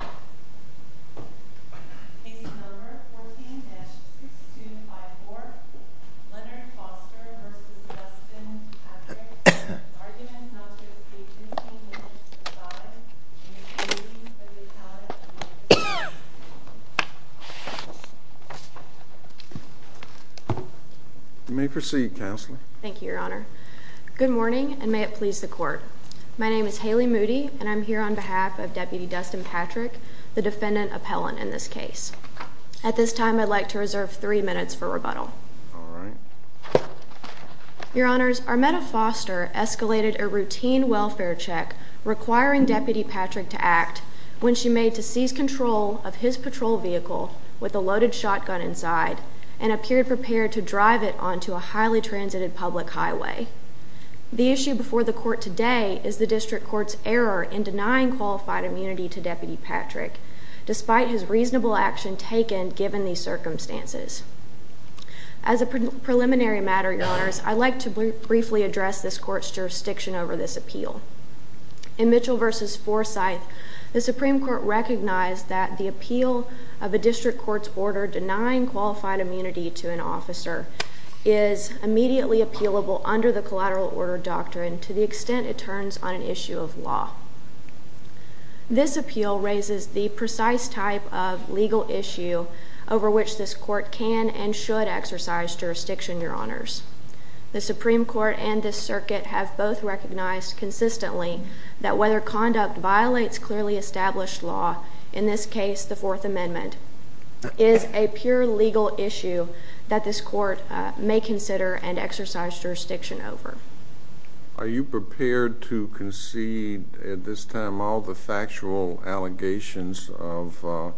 The case number 14-6254, Leonard Foster v. Dustin Patrick, argument not to receive $15,005.00, and the proceedings of the account at the moment are as follows. The defendant appellant in this case. At this time, I'd like to reserve three minutes for rebuttal. Your Honors, Armetta Foster escalated a routine welfare check requiring Deputy Patrick to act when she made to seize control of his patrol vehicle with a loaded shotgun inside and appeared prepared to drive it onto a highly transited public highway. The issue before the court today is the district court's error in denying qualified immunity to Deputy Patrick, despite his reasonable action taken given these circumstances. As a preliminary matter, Your Honors, I'd like to briefly address this court's jurisdiction over this appeal. In Mitchell v. Forsyth, the Supreme Court recognized that the appeal of a district court's order denying qualified immunity to an officer is immediately appealable under the collateral order doctrine to the extent it turns on an issue of law. This appeal raises the precise type of legal issue over which this court can and should exercise jurisdiction, Your Honors. The Supreme Court and this circuit have both recognized consistently that whether conduct violates clearly established law, in this case the Fourth Amendment, is a pure legal issue that this court may consider and exercise jurisdiction over. Are you prepared to concede at this time all the factual allegations of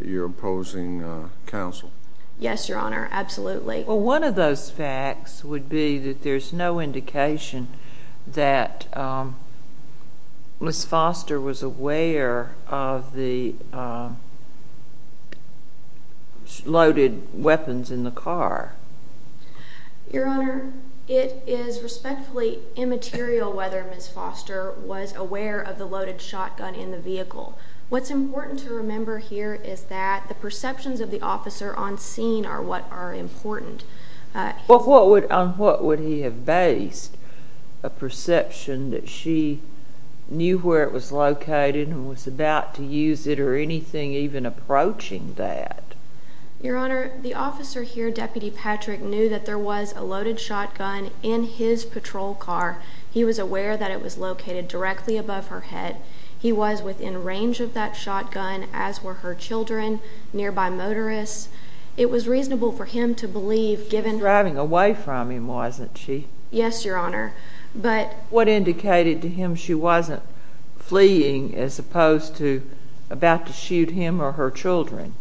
your opposing counsel? Yes, Your Honor, absolutely. Well, one of those facts would be that there's no indication that Ms. Foster was aware of the loaded weapons in the car. Your Honor, it is respectfully immaterial whether Ms. Foster was aware of the loaded shotgun in the vehicle. What's important to remember here is that the perceptions of the officer on scene are what are important. On what would he have based a perception that she knew where it was located and was about to use it or anything even approaching that? Your Honor, the officer here, Deputy Patrick, knew that there was a loaded shotgun in his patrol car. He was aware that it was located directly above her head. He was within range of that shotgun, as were her children, nearby motorists. It was reasonable for him to believe, given— She was driving away from him, wasn't she? Yes, Your Honor, but— What indicated to him she wasn't fleeing as opposed to about to shoot him or her children?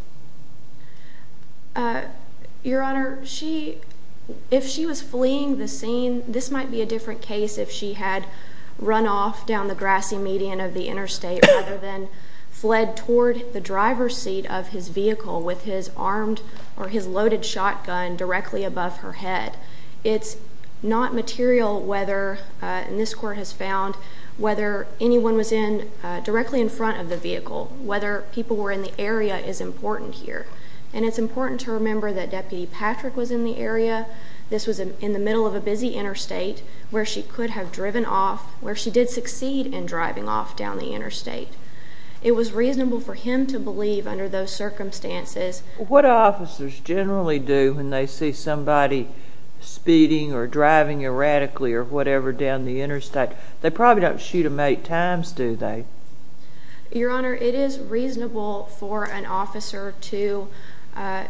Your Honor, if she was fleeing the scene, this might be a different case if she had run off down the grassy median of the interstate rather than fled toward the driver's seat of his vehicle with his loaded shotgun directly above her head. It's not material whether—and this Court has found—whether anyone was directly in front of the vehicle, whether people were in the area is important here. And it's important to remember that Deputy Patrick was in the area. This was in the middle of a busy interstate where she could have driven off, where she did succeed in driving off down the interstate. It was reasonable for him to believe under those circumstances. What do officers generally do when they see somebody speeding or driving erratically or whatever down the interstate? They probably don't shoot them eight times, do they? Your Honor, it is reasonable for an officer to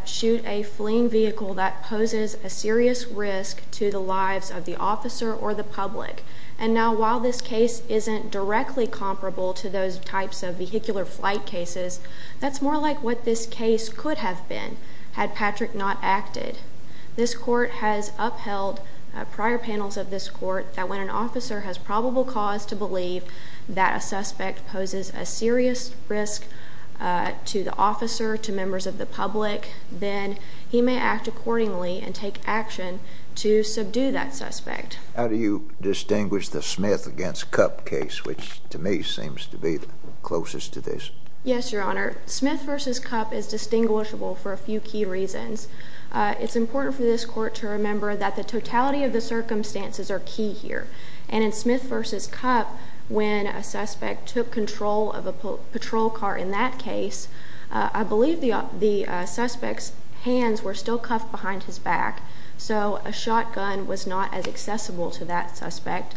shoot a fleeing vehicle that poses a serious risk to the lives of the officer or the public. And now, while this case isn't directly comparable to those types of vehicular flight cases, that's more like what this case could have been had Patrick not acted. This Court has upheld prior panels of this Court that when an officer has probable cause to believe that a suspect poses a serious risk to the officer, to members of the public, then he may act accordingly and take action to subdue that suspect. How do you distinguish the Smith v. Cup case, which to me seems to be closest to this? Yes, Your Honor. Smith v. Cup is distinguishable for a few key reasons. It's important for this Court to remember that the totality of the circumstances are key here. And in Smith v. Cup, when a suspect took control of a patrol car in that case, I believe the suspect's hands were still cuffed behind his back, so a shotgun was not as accessible to that suspect.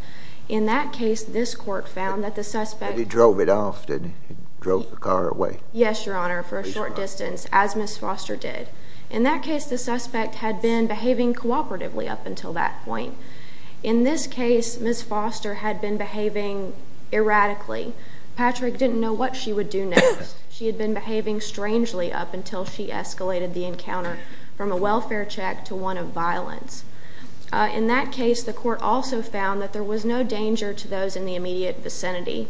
In that case, this Court found that the suspect... But he drove it off, didn't he? He drove the car away. Yes, Your Honor, for a short distance, as Ms. Foster did. In that case, the suspect had been behaving cooperatively up until that point. In this case, Ms. Foster had been behaving erratically. Patrick didn't know what she would do next. She had been behaving strangely up until she escalated the encounter from a welfare check to one of violence. In that case, the Court also found that there was no danger to those in the immediate vicinity.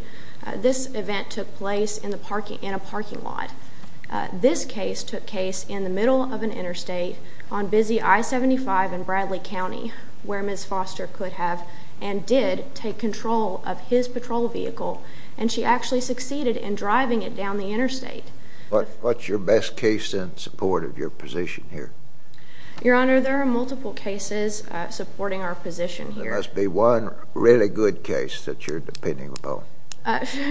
This event took place in a parking lot. This case took place in the middle of an interstate on busy I-75 in Bradley County, where Ms. Foster could have and did take control of his patrol vehicle, and she actually succeeded in driving it down the interstate. What's your best case in support of your position here? Your Honor, there are multiple cases supporting our position here. There must be one really good case that you're depending upon.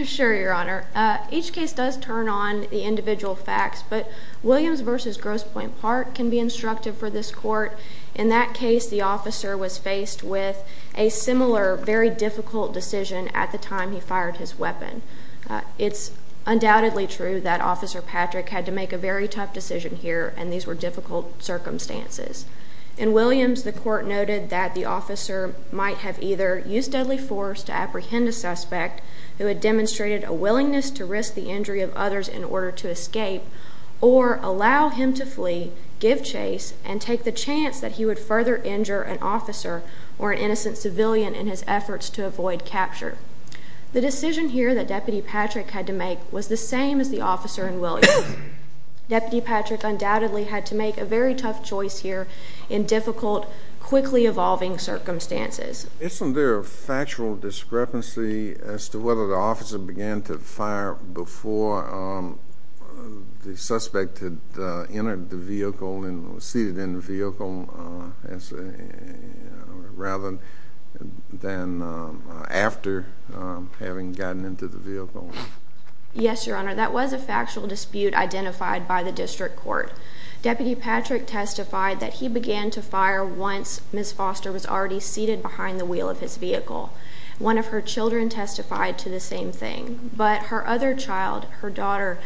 Sure, Your Honor. Each case does turn on the individual facts, but Williams v. Grosspoint Park can be instructive for this court. In that case, the officer was faced with a similar, very difficult decision at the time he fired his weapon. It's undoubtedly true that Officer Patrick had to make a very tough decision here, and these were difficult circumstances. In Williams, the Court noted that the officer might have either used deadly force to apprehend a suspect who had demonstrated a willingness to risk the injury of others in order to escape, or allow him to flee, give chase, and take the chance that he would further injure an officer or an innocent civilian in his efforts to avoid capture. The decision here that Deputy Patrick had to make was the same as the officer in Williams. Deputy Patrick undoubtedly had to make a very tough choice here in difficult, quickly evolving circumstances. Isn't there a factual discrepancy as to whether the officer began to fire before the suspect had entered the vehicle and was seated in the vehicle, rather than after having gotten into the vehicle? Yes, Your Honor, that was a factual dispute identified by the District Court. Deputy Patrick testified that he began to fire once Ms. Foster was already seated behind the wheel of his vehicle. One of her children testified to the same thing. But her other child, her daughter,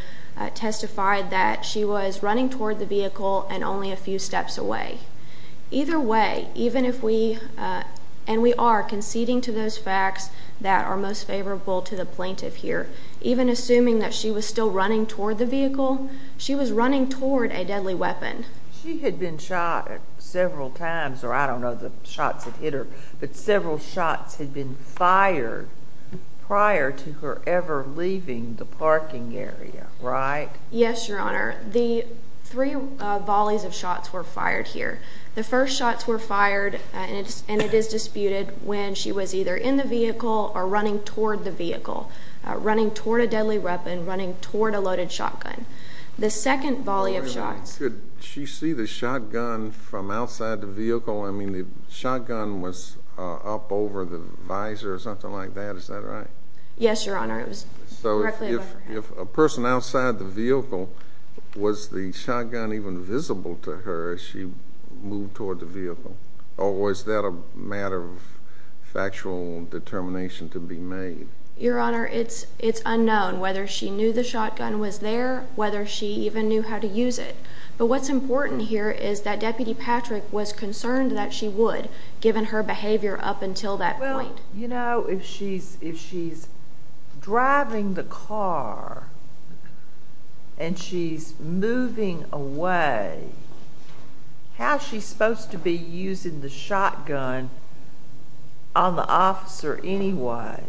testified that she was running toward the vehicle and only a few steps away. Either way, even if we, and we are conceding to those facts that are most favorable to the plaintiff here, even assuming that she was still running toward the vehicle, she was running toward a deadly weapon. She had been shot several times, or I don't know the shots that hit her, but several shots had been fired prior to her ever leaving the parking area, right? Yes, Your Honor, the three volleys of shots were fired here. The first shots were fired, and it is disputed, when she was either in the vehicle or running toward the vehicle, running toward a deadly weapon, running toward a loaded shotgun. The second volley of shots… Could she see the shotgun from outside the vehicle? I mean, the shotgun was up over the visor or something like that, is that right? Yes, Your Honor, it was directly above her head. If a person outside the vehicle, was the shotgun even visible to her as she moved toward the vehicle, or was that a matter of factual determination to be made? Your Honor, it's unknown whether she knew the shotgun was there, whether she even knew how to use it. But what's important here is that Deputy Patrick was concerned that she would, given her behavior up until that point. You know, if she's driving the car, and she's moving away, how's she supposed to be using the shotgun on the officer anyway?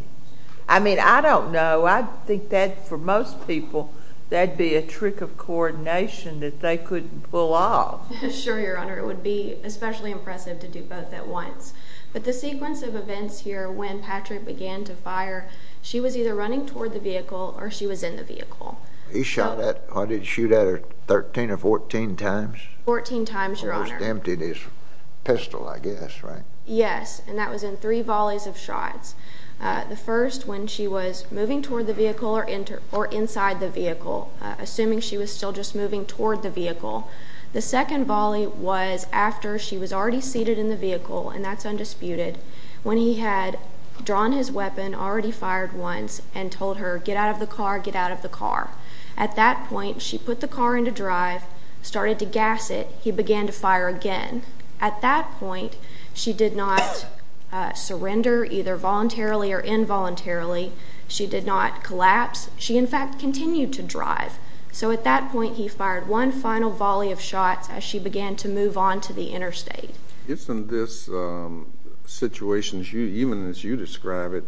I mean, I don't know, I think that for most people, that'd be a trick of coordination that they couldn't pull off. Sure, Your Honor, it would be especially impressive to do both at once. But the sequence of events here, when Patrick began to fire, she was either running toward the vehicle or she was in the vehicle. He shot at, or did he shoot at her 13 or 14 times? 14 times, Your Honor. Almost emptied his pistol, I guess, right? Yes, and that was in three volleys of shots. The first, when she was moving toward the vehicle or inside the vehicle, assuming she was still just moving toward the vehicle. The second volley was after she was already seated in the vehicle, and that's undisputed, when he had drawn his weapon, already fired once, and told her, get out of the car, get out of the car. At that point, she put the car into drive, started to gas it. He began to fire again. At that point, she did not surrender, either voluntarily or involuntarily. She did not collapse. She, in fact, continued to drive. So at that point, he fired one final volley of shots as she began to move on to the interstate. Isn't this situation, even as you describe it,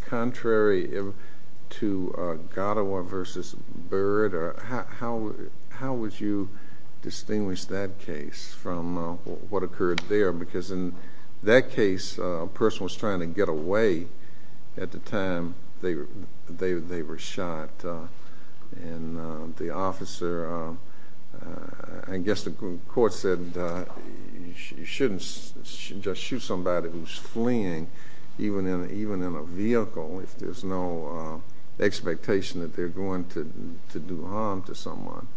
contrary to Gattawa versus Byrd? How would you distinguish that case from what occurred there? Because in that case, a person was trying to get away at the time they were shot, and the officer, I guess the court said you shouldn't just shoot somebody who's fleeing, even in a vehicle, if there's no expectation that they're going to do harm to someone.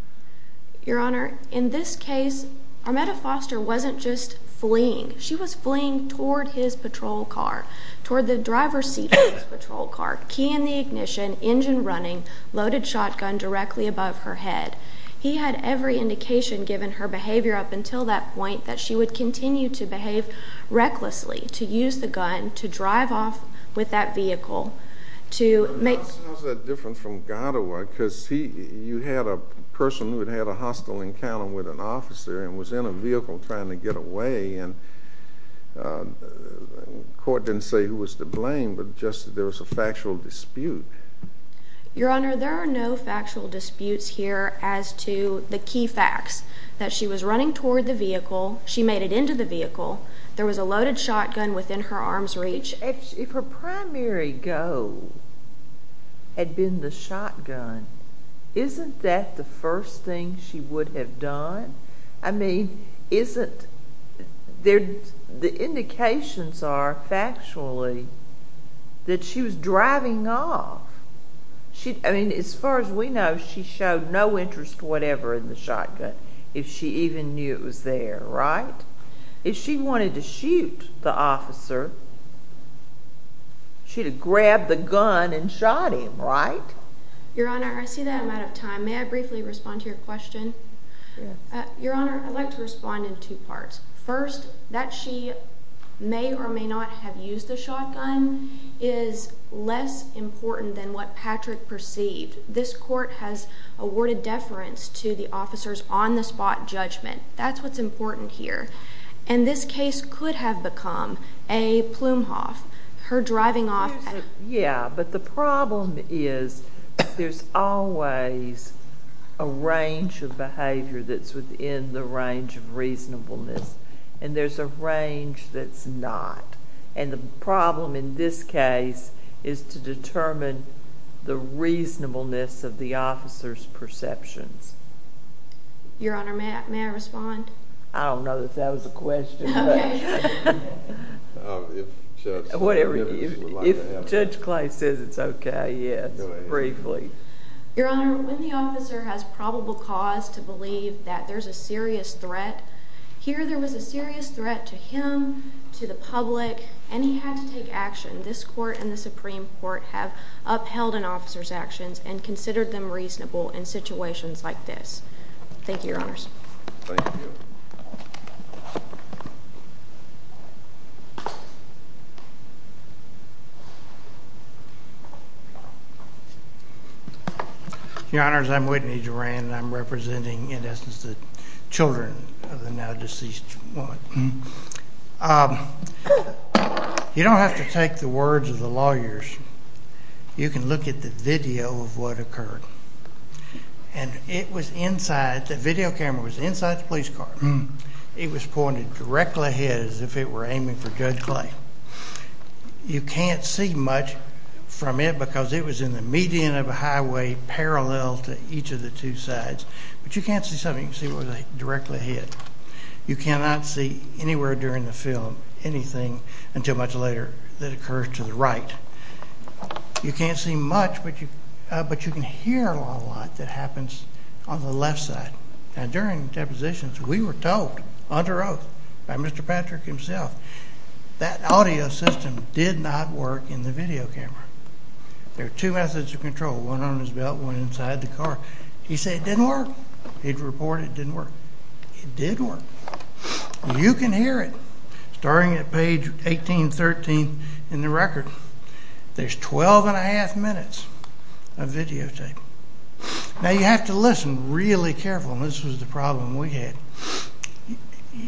Your Honor, in this case, Armetta Foster wasn't just fleeing. She was fleeing toward his patrol car, toward the driver's seat of his patrol car, key in the ignition, engine running, loaded shotgun directly above her head. He had every indication, given her behavior up until that point, that she would continue to behave recklessly, to use the gun, to drive off with that vehicle, to make— Well, it sounds that different from Gattawa, because you had a person who had had a hostile encounter with an officer and was in a vehicle trying to get away, and the court didn't say who was to blame, but just that there was a factual dispute. Your Honor, there are no factual disputes here as to the key facts, that she was running toward the vehicle, she made it into the vehicle, there was a loaded shotgun within her arms' reach. If her primary goal had been the shotgun, isn't that the first thing she would have done? I mean, isn't—the indications are, factually, that she was driving off. I mean, as far as we know, she showed no interest whatever in the shotgun, if she even knew it was there, right? If she wanted to shoot the officer, she'd have grabbed the gun and shot him, right? Your Honor, I see that I'm out of time. May I briefly respond to your question? Yes. Your Honor, I'd like to respond in two parts. First, that she may or may not have used the shotgun is less important than what Patrick perceived. This court has awarded deference to the officer's on-the-spot judgment. That's what's important here. And this case could have become a Plumhoff, her driving off— Yeah, but the problem is there's always a range of behavior that's within the range of reasonableness, and there's a range that's not. And the problem in this case is to determine the reasonableness of the officer's perceptions. Your Honor, may I respond? I don't know that that was a question. Okay. If Judge— Whatever. If Judge Clay says it's okay, yes, briefly. Your Honor, when the officer has probable cause to believe that there's a serious threat, here there was a serious threat to him, to the public, and he had to take action. This court and the Supreme Court have upheld an officer's actions and considered them reasonable in situations like this. Thank you, Your Honors. Thank you. Your Honors, I'm Whitney Duran, and I'm representing, in essence, the children of the now-deceased woman. You don't have to take the words of the lawyers. You can look at the video of what occurred, and it was inside—the video camera was inside the police car. It was pointed directly ahead as if it were aiming for Judge Clay. You can't see much from it because it was in the median of a highway parallel to each of the two sides, but you can't see something. You can see what was directly ahead. You cannot see anywhere during the film anything until much later that occurs to the right. You can't see much, but you can hear a lot of what happens on the left side. Now, during depositions, we were told under oath by Mr. Patrick himself that audio system did not work in the video camera. There are two methods of control, one on his belt, one inside the car. He said it didn't work. He reported it didn't work. It did work. You can hear it. Starting at page 1813 in the record, there's 12 1⁄2 minutes of videotape. Now, you have to listen really carefully, and this was the problem we had.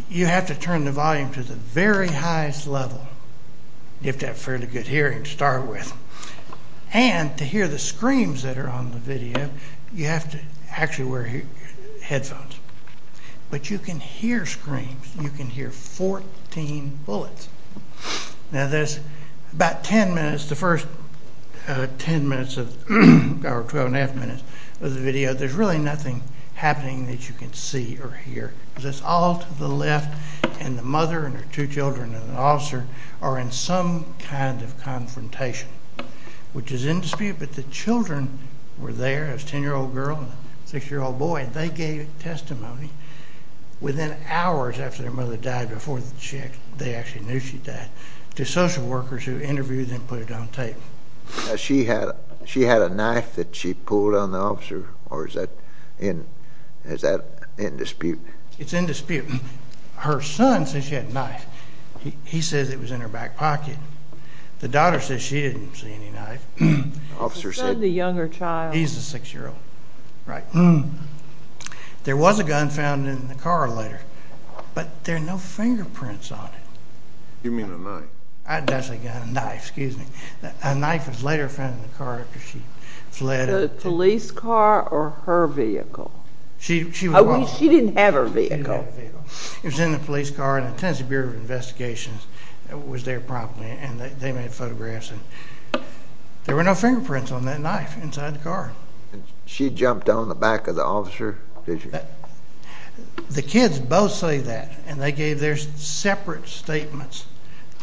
You have to turn the volume to the very highest level. You have to have fairly good hearing to start with. And to hear the screams that are on the video, you have to actually wear headphones. But you can hear screams. You can hear 14 bullets. Now, there's about 10 minutes, the first 10 minutes or 12 1⁄2 minutes of the video, there's really nothing happening that you can see or hear. It's all to the left, and the mother and her two children and an officer are in some kind of confrontation, which is in dispute, but the children were there. It was a 10-year-old girl and a 6-year-old boy, and they gave testimony within hours after their mother died, before they actually knew she died, to social workers who interviewed and put it on tape. Now, she had a knife that she pulled on the officer, or is that in dispute? It's in dispute. Her son says she had a knife. He says it was in her back pocket. The daughter says she didn't see any knife. The officer said... He said the younger child... He's the 6-year-old, right. There was a gun found in the car later, but there are no fingerprints on it. You mean a knife? That's a gun, a knife, excuse me. A knife was later found in the car after she fled. The police car or her vehicle? She didn't have her vehicle. She didn't have her vehicle. It was in the police car, and the Tennessee Bureau of Investigations was there promptly, and they made photographs, and there were no fingerprints on that knife inside the car. She jumped on the back of the officer, did she? The kids both say that, and they gave their separate statements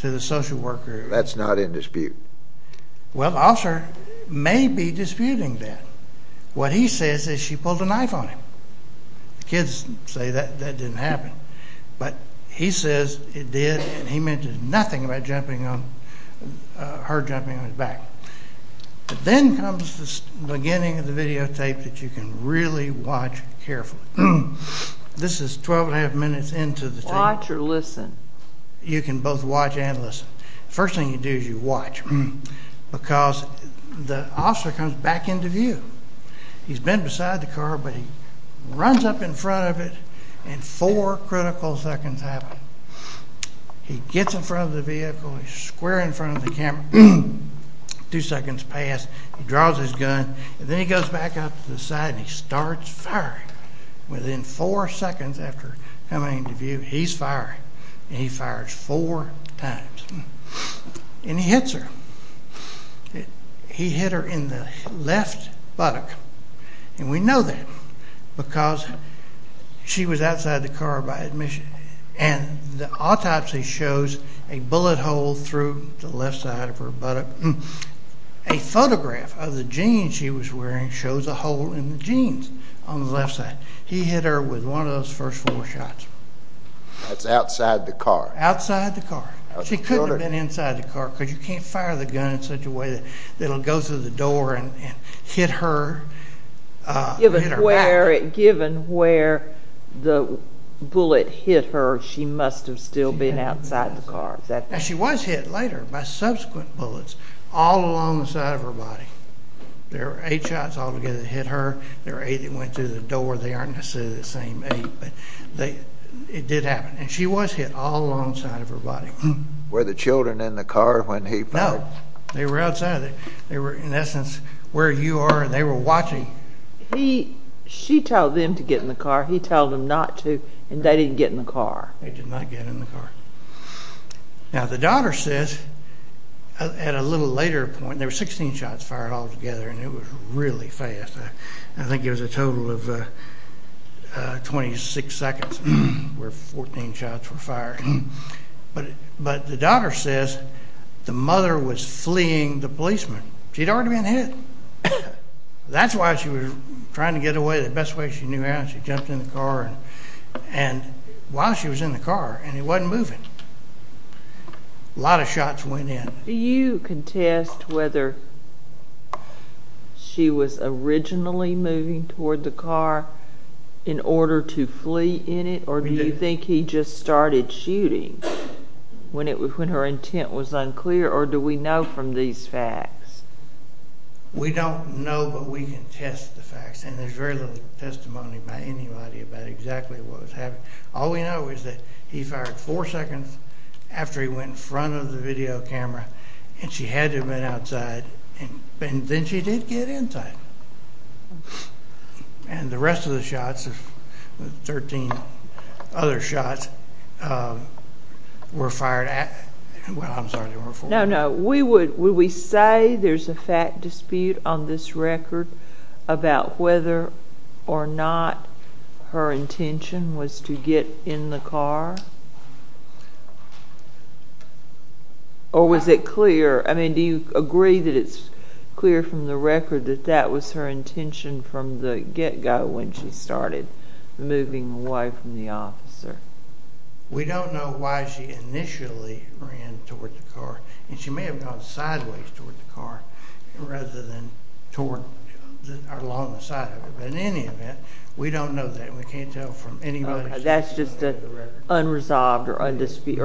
to the social worker. That's not in dispute. Well, the officer may be disputing that. What he says is she pulled a knife on him. The kids say that didn't happen, but he says it did, and he mentioned nothing about her jumping on his back. Then comes the beginning of the videotape that you can really watch carefully. This is 12 and a half minutes into the tape. Watch or listen? You can both watch and listen. The first thing you do is you watch because the officer comes back into view. He's been beside the car, but he runs up in front of it, and four critical seconds happen. He gets in front of the vehicle. He's square in front of the camera. Two seconds pass. He draws his gun, and then he goes back up to the side, and he starts firing. Within four seconds after coming into view, he's firing, and he fires four times, and he hits her. He hit her in the left buttock, and we know that because she was outside the car by admission, and the autopsy shows a bullet hole through the left side of her buttock. A photograph of the jeans she was wearing shows a hole in the jeans on the left side. He hit her with one of those first four shots. That's outside the car? Outside the car. She couldn't have been inside the car because you can't fire the gun in such a way that it'll go through the door and hit her. Given where the bullet hit her, she must have still been outside the car. She was hit later by subsequent bullets all along the side of her body. There were eight shots all together that hit her. There were eight that went through the door. They aren't necessarily the same eight, but it did happen, and she was hit all along the side of her body. Were the children in the car when he fired? No, they were outside. They were, in essence, where you are, and they were watching. She told them to get in the car. He told them not to, and they didn't get in the car. They did not get in the car. Now, the daughter says, at a little later point, there were 16 shots fired all together, and it was really fast. I think it was a total of 26 seconds where 14 shots were fired. But the daughter says the mother was fleeing the policeman. She'd already been hit. That's why she was trying to get away the best way she knew how. She jumped in the car, and while she was in the car, and he wasn't moving. A lot of shots went in. Do you contest whether she was originally moving toward the car in order to flee in it, or do you think he just started shooting when her intent was unclear, or do we know from these facts? We don't know, but we can test the facts, and there's very little testimony by anybody about exactly what was happening. All we know is that he fired four seconds after he went in front of the video camera, and she had to have been outside, and then she did get inside. And the rest of the shots, the 13 other shots, were fired at, well, I'm sorry, there were four. No, no. Would we say there's a fact dispute on this record about whether or not her intention was to get in the car? Or was it clear, I mean, do you agree that it's clear from the record that that was her intention from the get-go when she started moving away from the officer? We don't know why she initially ran toward the car, and she may have gone sideways toward the car rather than along the side of it. But in any event, we don't know that, and we can't tell from anybody's testimony. It's just unresolved or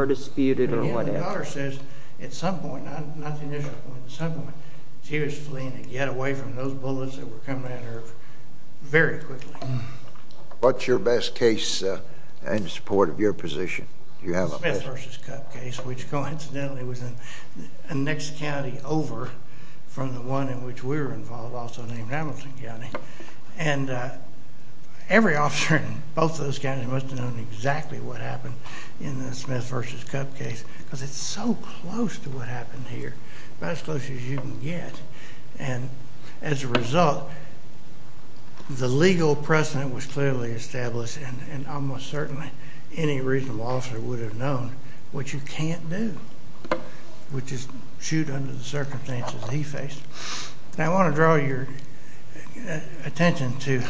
disputed or whatever. I mean, the daughter says at some point, not the initial point, at some point, she was fleeing to get away from those bullets that were coming at her very quickly. What's your best case in support of your position? Smith v. Cup case, which coincidentally was in the next county over from the one in which we were involved, also named Hamilton County. And every officer in both those counties must have known exactly what happened in the Smith v. Cup case because it's so close to what happened here, about as close as you can get. And as a result, the legal precedent was clearly established, and almost certainly any reasonable officer would have known what you can't do, which is shoot under the circumstances he faced. Now, I want to draw your attention to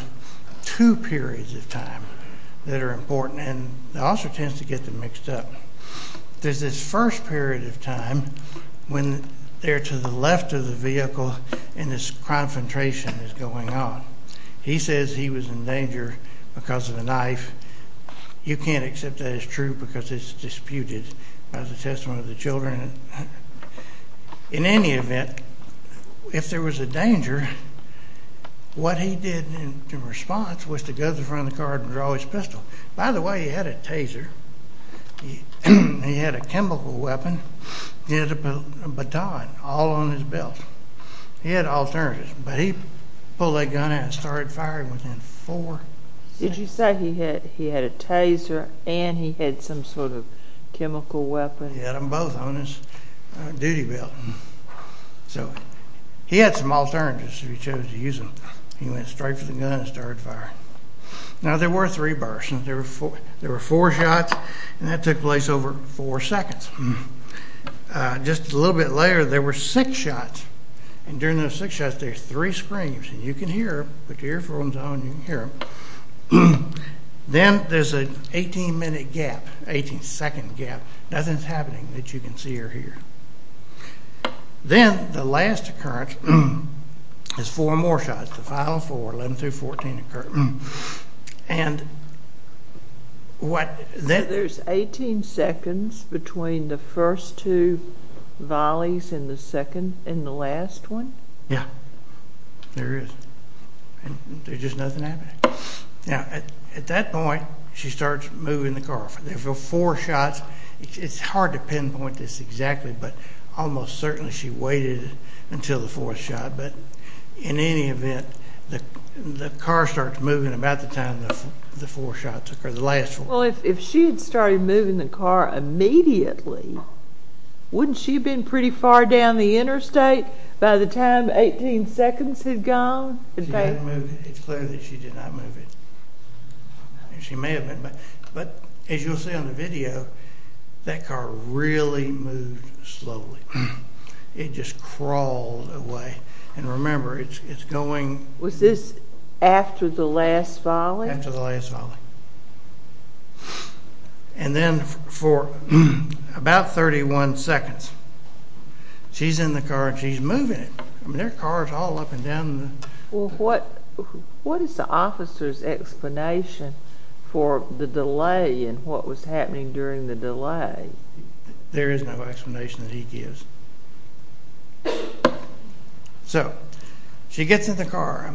two periods of time that are important, and the officer tends to get them mixed up. There's this first period of time when they're to the left of the vehicle and this confrontation is going on. He says he was in danger because of the knife. You can't accept that as true because it's disputed by the testimony of the children. In any event, if there was a danger, what he did in response was to go to the front of the car and draw his pistol. By the way, he had a taser. He had a chemical weapon. He had a baton all on his belt. He had alternatives, but he pulled that gun out and started firing within four seconds. Did you say he had a taser and he had some sort of chemical weapon? He had them both on his duty belt. So he had some alternatives if he chose to use them. He went straight for the gun and started firing. Now, there were three bursts. There were four shots, and that took place over four seconds. Just a little bit later, there were six shots, and during those six shots, there were three screams. You can hear them. Put your earphones on and you can hear them. Then there's an 18-minute gap, 18-second gap. Nothing is happening, but you can see or hear. Then the last occurrence is four more shots, the final four, 11 through 14. There's 18 seconds between the first two volleys and the last one? Yeah, there is. There's just nothing happening. Now, at that point, she starts moving the car. There were four shots. It's hard to pinpoint this exactly, but almost certainly she waited until the fourth shot. But in any event, the car starts moving about the time the four shots occur, the last four. Well, if she had started moving the car immediately, wouldn't she have been pretty far down the interstate by the time 18 seconds had gone? It's clear that she did not move it. She may have been, but as you'll see on the video, that car really moved slowly. It just crawled away. And remember, it's going. Was this after the last volley? After the last volley. And then for about 31 seconds, she's in the car and she's moving it. I mean, there are cars all up and down. Well, what is the officer's explanation for the delay and what was happening during the delay? There is no explanation that he gives. So, she gets in the car.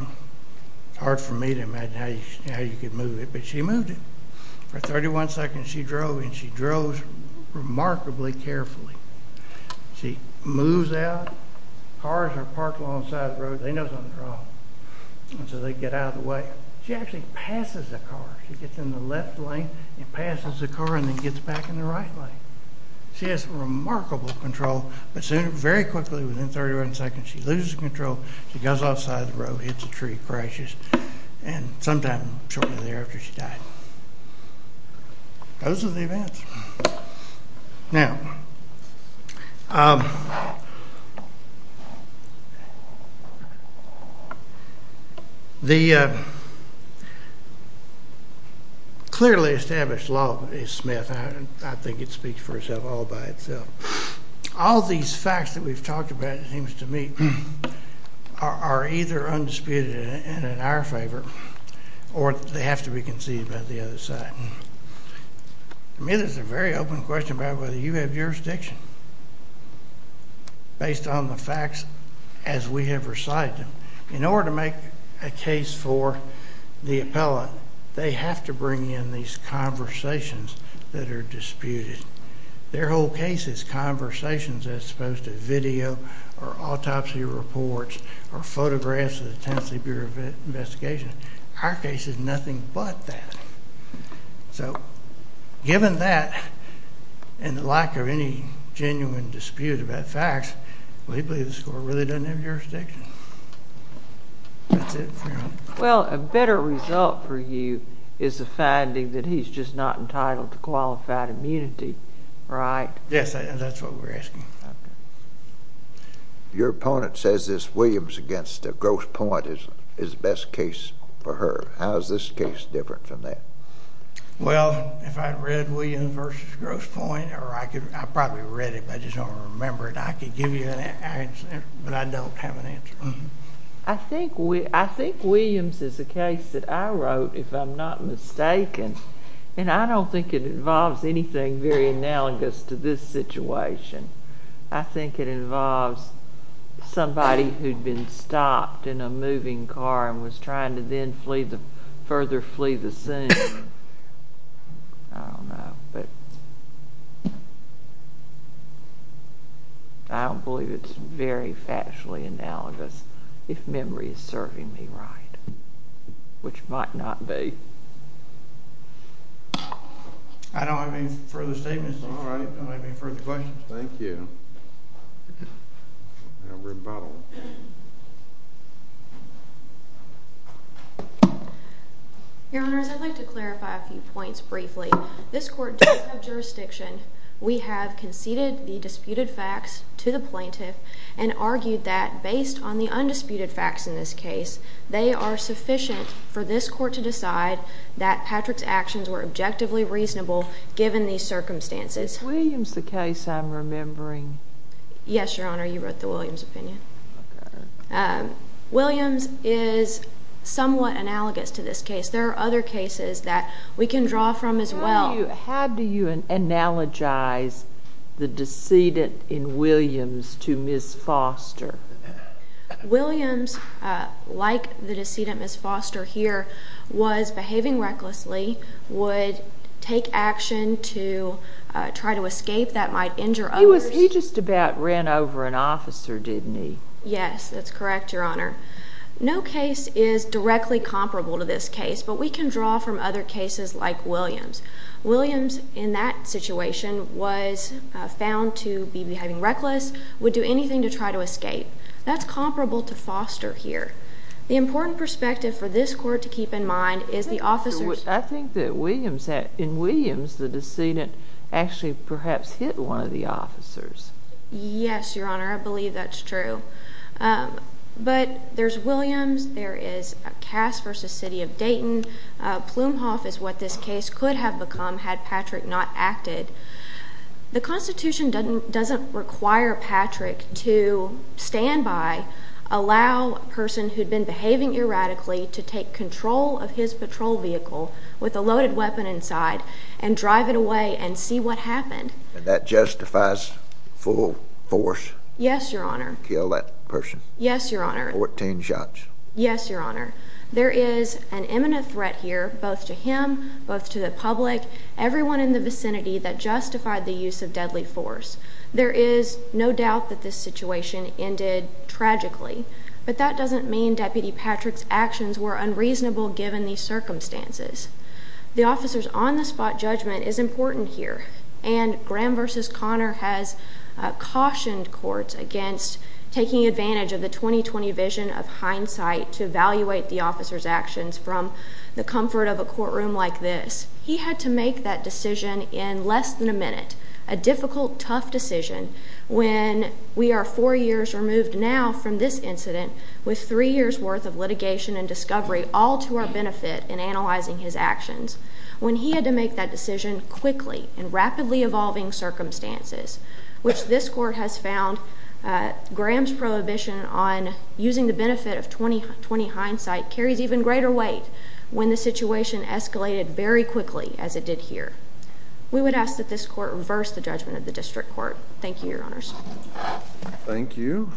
It's hard for me to imagine how you could move it, but she moved it. For 31 seconds, she drove, and she drove remarkably carefully. She moves out. Cars are parked alongside the road. They know something's wrong, and so they get out of the way. She actually passes the car. She gets in the left lane and passes the car and then gets back in the right lane. She has remarkable control, but soon, very quickly, within 31 seconds, she loses control. She goes outside the road, hits a tree, crashes, and sometime shortly thereafter, she died. Those are the events. Now, the clearly established law is Smith. I think it speaks for itself all by itself. All these facts that we've talked about, it seems to me, are either undisputed and in our favor or they have to be conceived by the other side. To me, there's a very open question about whether you have jurisdiction based on the facts as we have recited them. In order to make a case for the appellant, they have to bring in these conversations that are disputed. Their whole case is conversations as opposed to video or autopsy reports or photographs of the Tennessee Bureau of Investigation. Our case is nothing but that. So, given that and the lack of any genuine dispute about facts, we believe the score really doesn't have jurisdiction. That's it for me. Well, a better result for you is the finding that he's just not entitled to qualified immunity, right? Yes, that's what we're asking. Your opponent says this Williams against Grosse Pointe is the best case for her. How is this case different from that? Well, if I'd read Williams versus Grosse Pointe, or I probably read it, but I just don't remember it, I could give you an answer, but I don't have an answer. I think Williams is a case that I wrote, if I'm not mistaken, and I don't think it involves anything very analogous to this situation. I think it involves somebody who'd been stopped in a moving car and was trying to then further flee the scene. I don't know, but I don't believe it's very factually analogous, if memory is serving me right, which it might not be. I don't have any further statements. All right. I don't have any further questions. Thank you. Your Honors, I'd like to clarify a few points briefly. This court does have jurisdiction. We have conceded the disputed facts to the plaintiff and argued that based on the undisputed facts in this case, they are sufficient for this court to decide that Patrick's actions were objectively reasonable given these circumstances. Is Williams the case I'm remembering? Yes, Your Honor. You wrote the Williams opinion. Williams is somewhat analogous to this case. There are other cases that we can draw from as well. How do you analogize the decedent in Williams to Ms. Foster? Williams, like the decedent Ms. Foster here, was behaving recklessly, would take action to try to escape that might injure others. He just about ran over an officer, didn't he? Yes, that's correct, Your Honor. No case is directly comparable to this case, but we can draw from other cases like Williams. Williams, in that situation, was found to be behaving reckless, would do anything to try to escape. That's comparable to Foster here. The important perspective for this court to keep in mind is the officers... I think that in Williams, the decedent actually perhaps hit one of the officers. Yes, Your Honor, I believe that's true. But there's Williams, there is Cass v. City of Dayton. Plumhoff is what this case could have become had Patrick not acted. The Constitution doesn't require Patrick to stand by, allow a person who'd been behaving erratically to take control of his patrol vehicle with a loaded weapon inside and drive it away and see what happened. And that justifies full force? Yes, Your Honor. To kill that person? Yes, Your Honor. 14 shots? Yes, Your Honor. There is an imminent threat here, both to him, both to the public, everyone in the vicinity that justified the use of deadly force. There is no doubt that this situation ended tragically, but that doesn't mean Deputy Patrick's actions were unreasonable given these circumstances. The officers' on-the-spot judgment is important here, and Graham v. Conner has cautioned courts against taking advantage of the 2020 vision of hindsight to evaluate the officers' actions from the comfort of a courtroom like this. He had to make that decision in less than a minute, a difficult, tough decision, when we are four years removed now from this incident with three years' worth of litigation and discovery all to our benefit in analyzing his actions. When he had to make that decision quickly in rapidly evolving circumstances, which this court has found Graham's prohibition on using the benefit of 2020 hindsight carries even greater weight when the situation escalated very quickly as it did here. We would ask that this court reverse the judgment of the district court. Thank you, Your Honors. Thank you.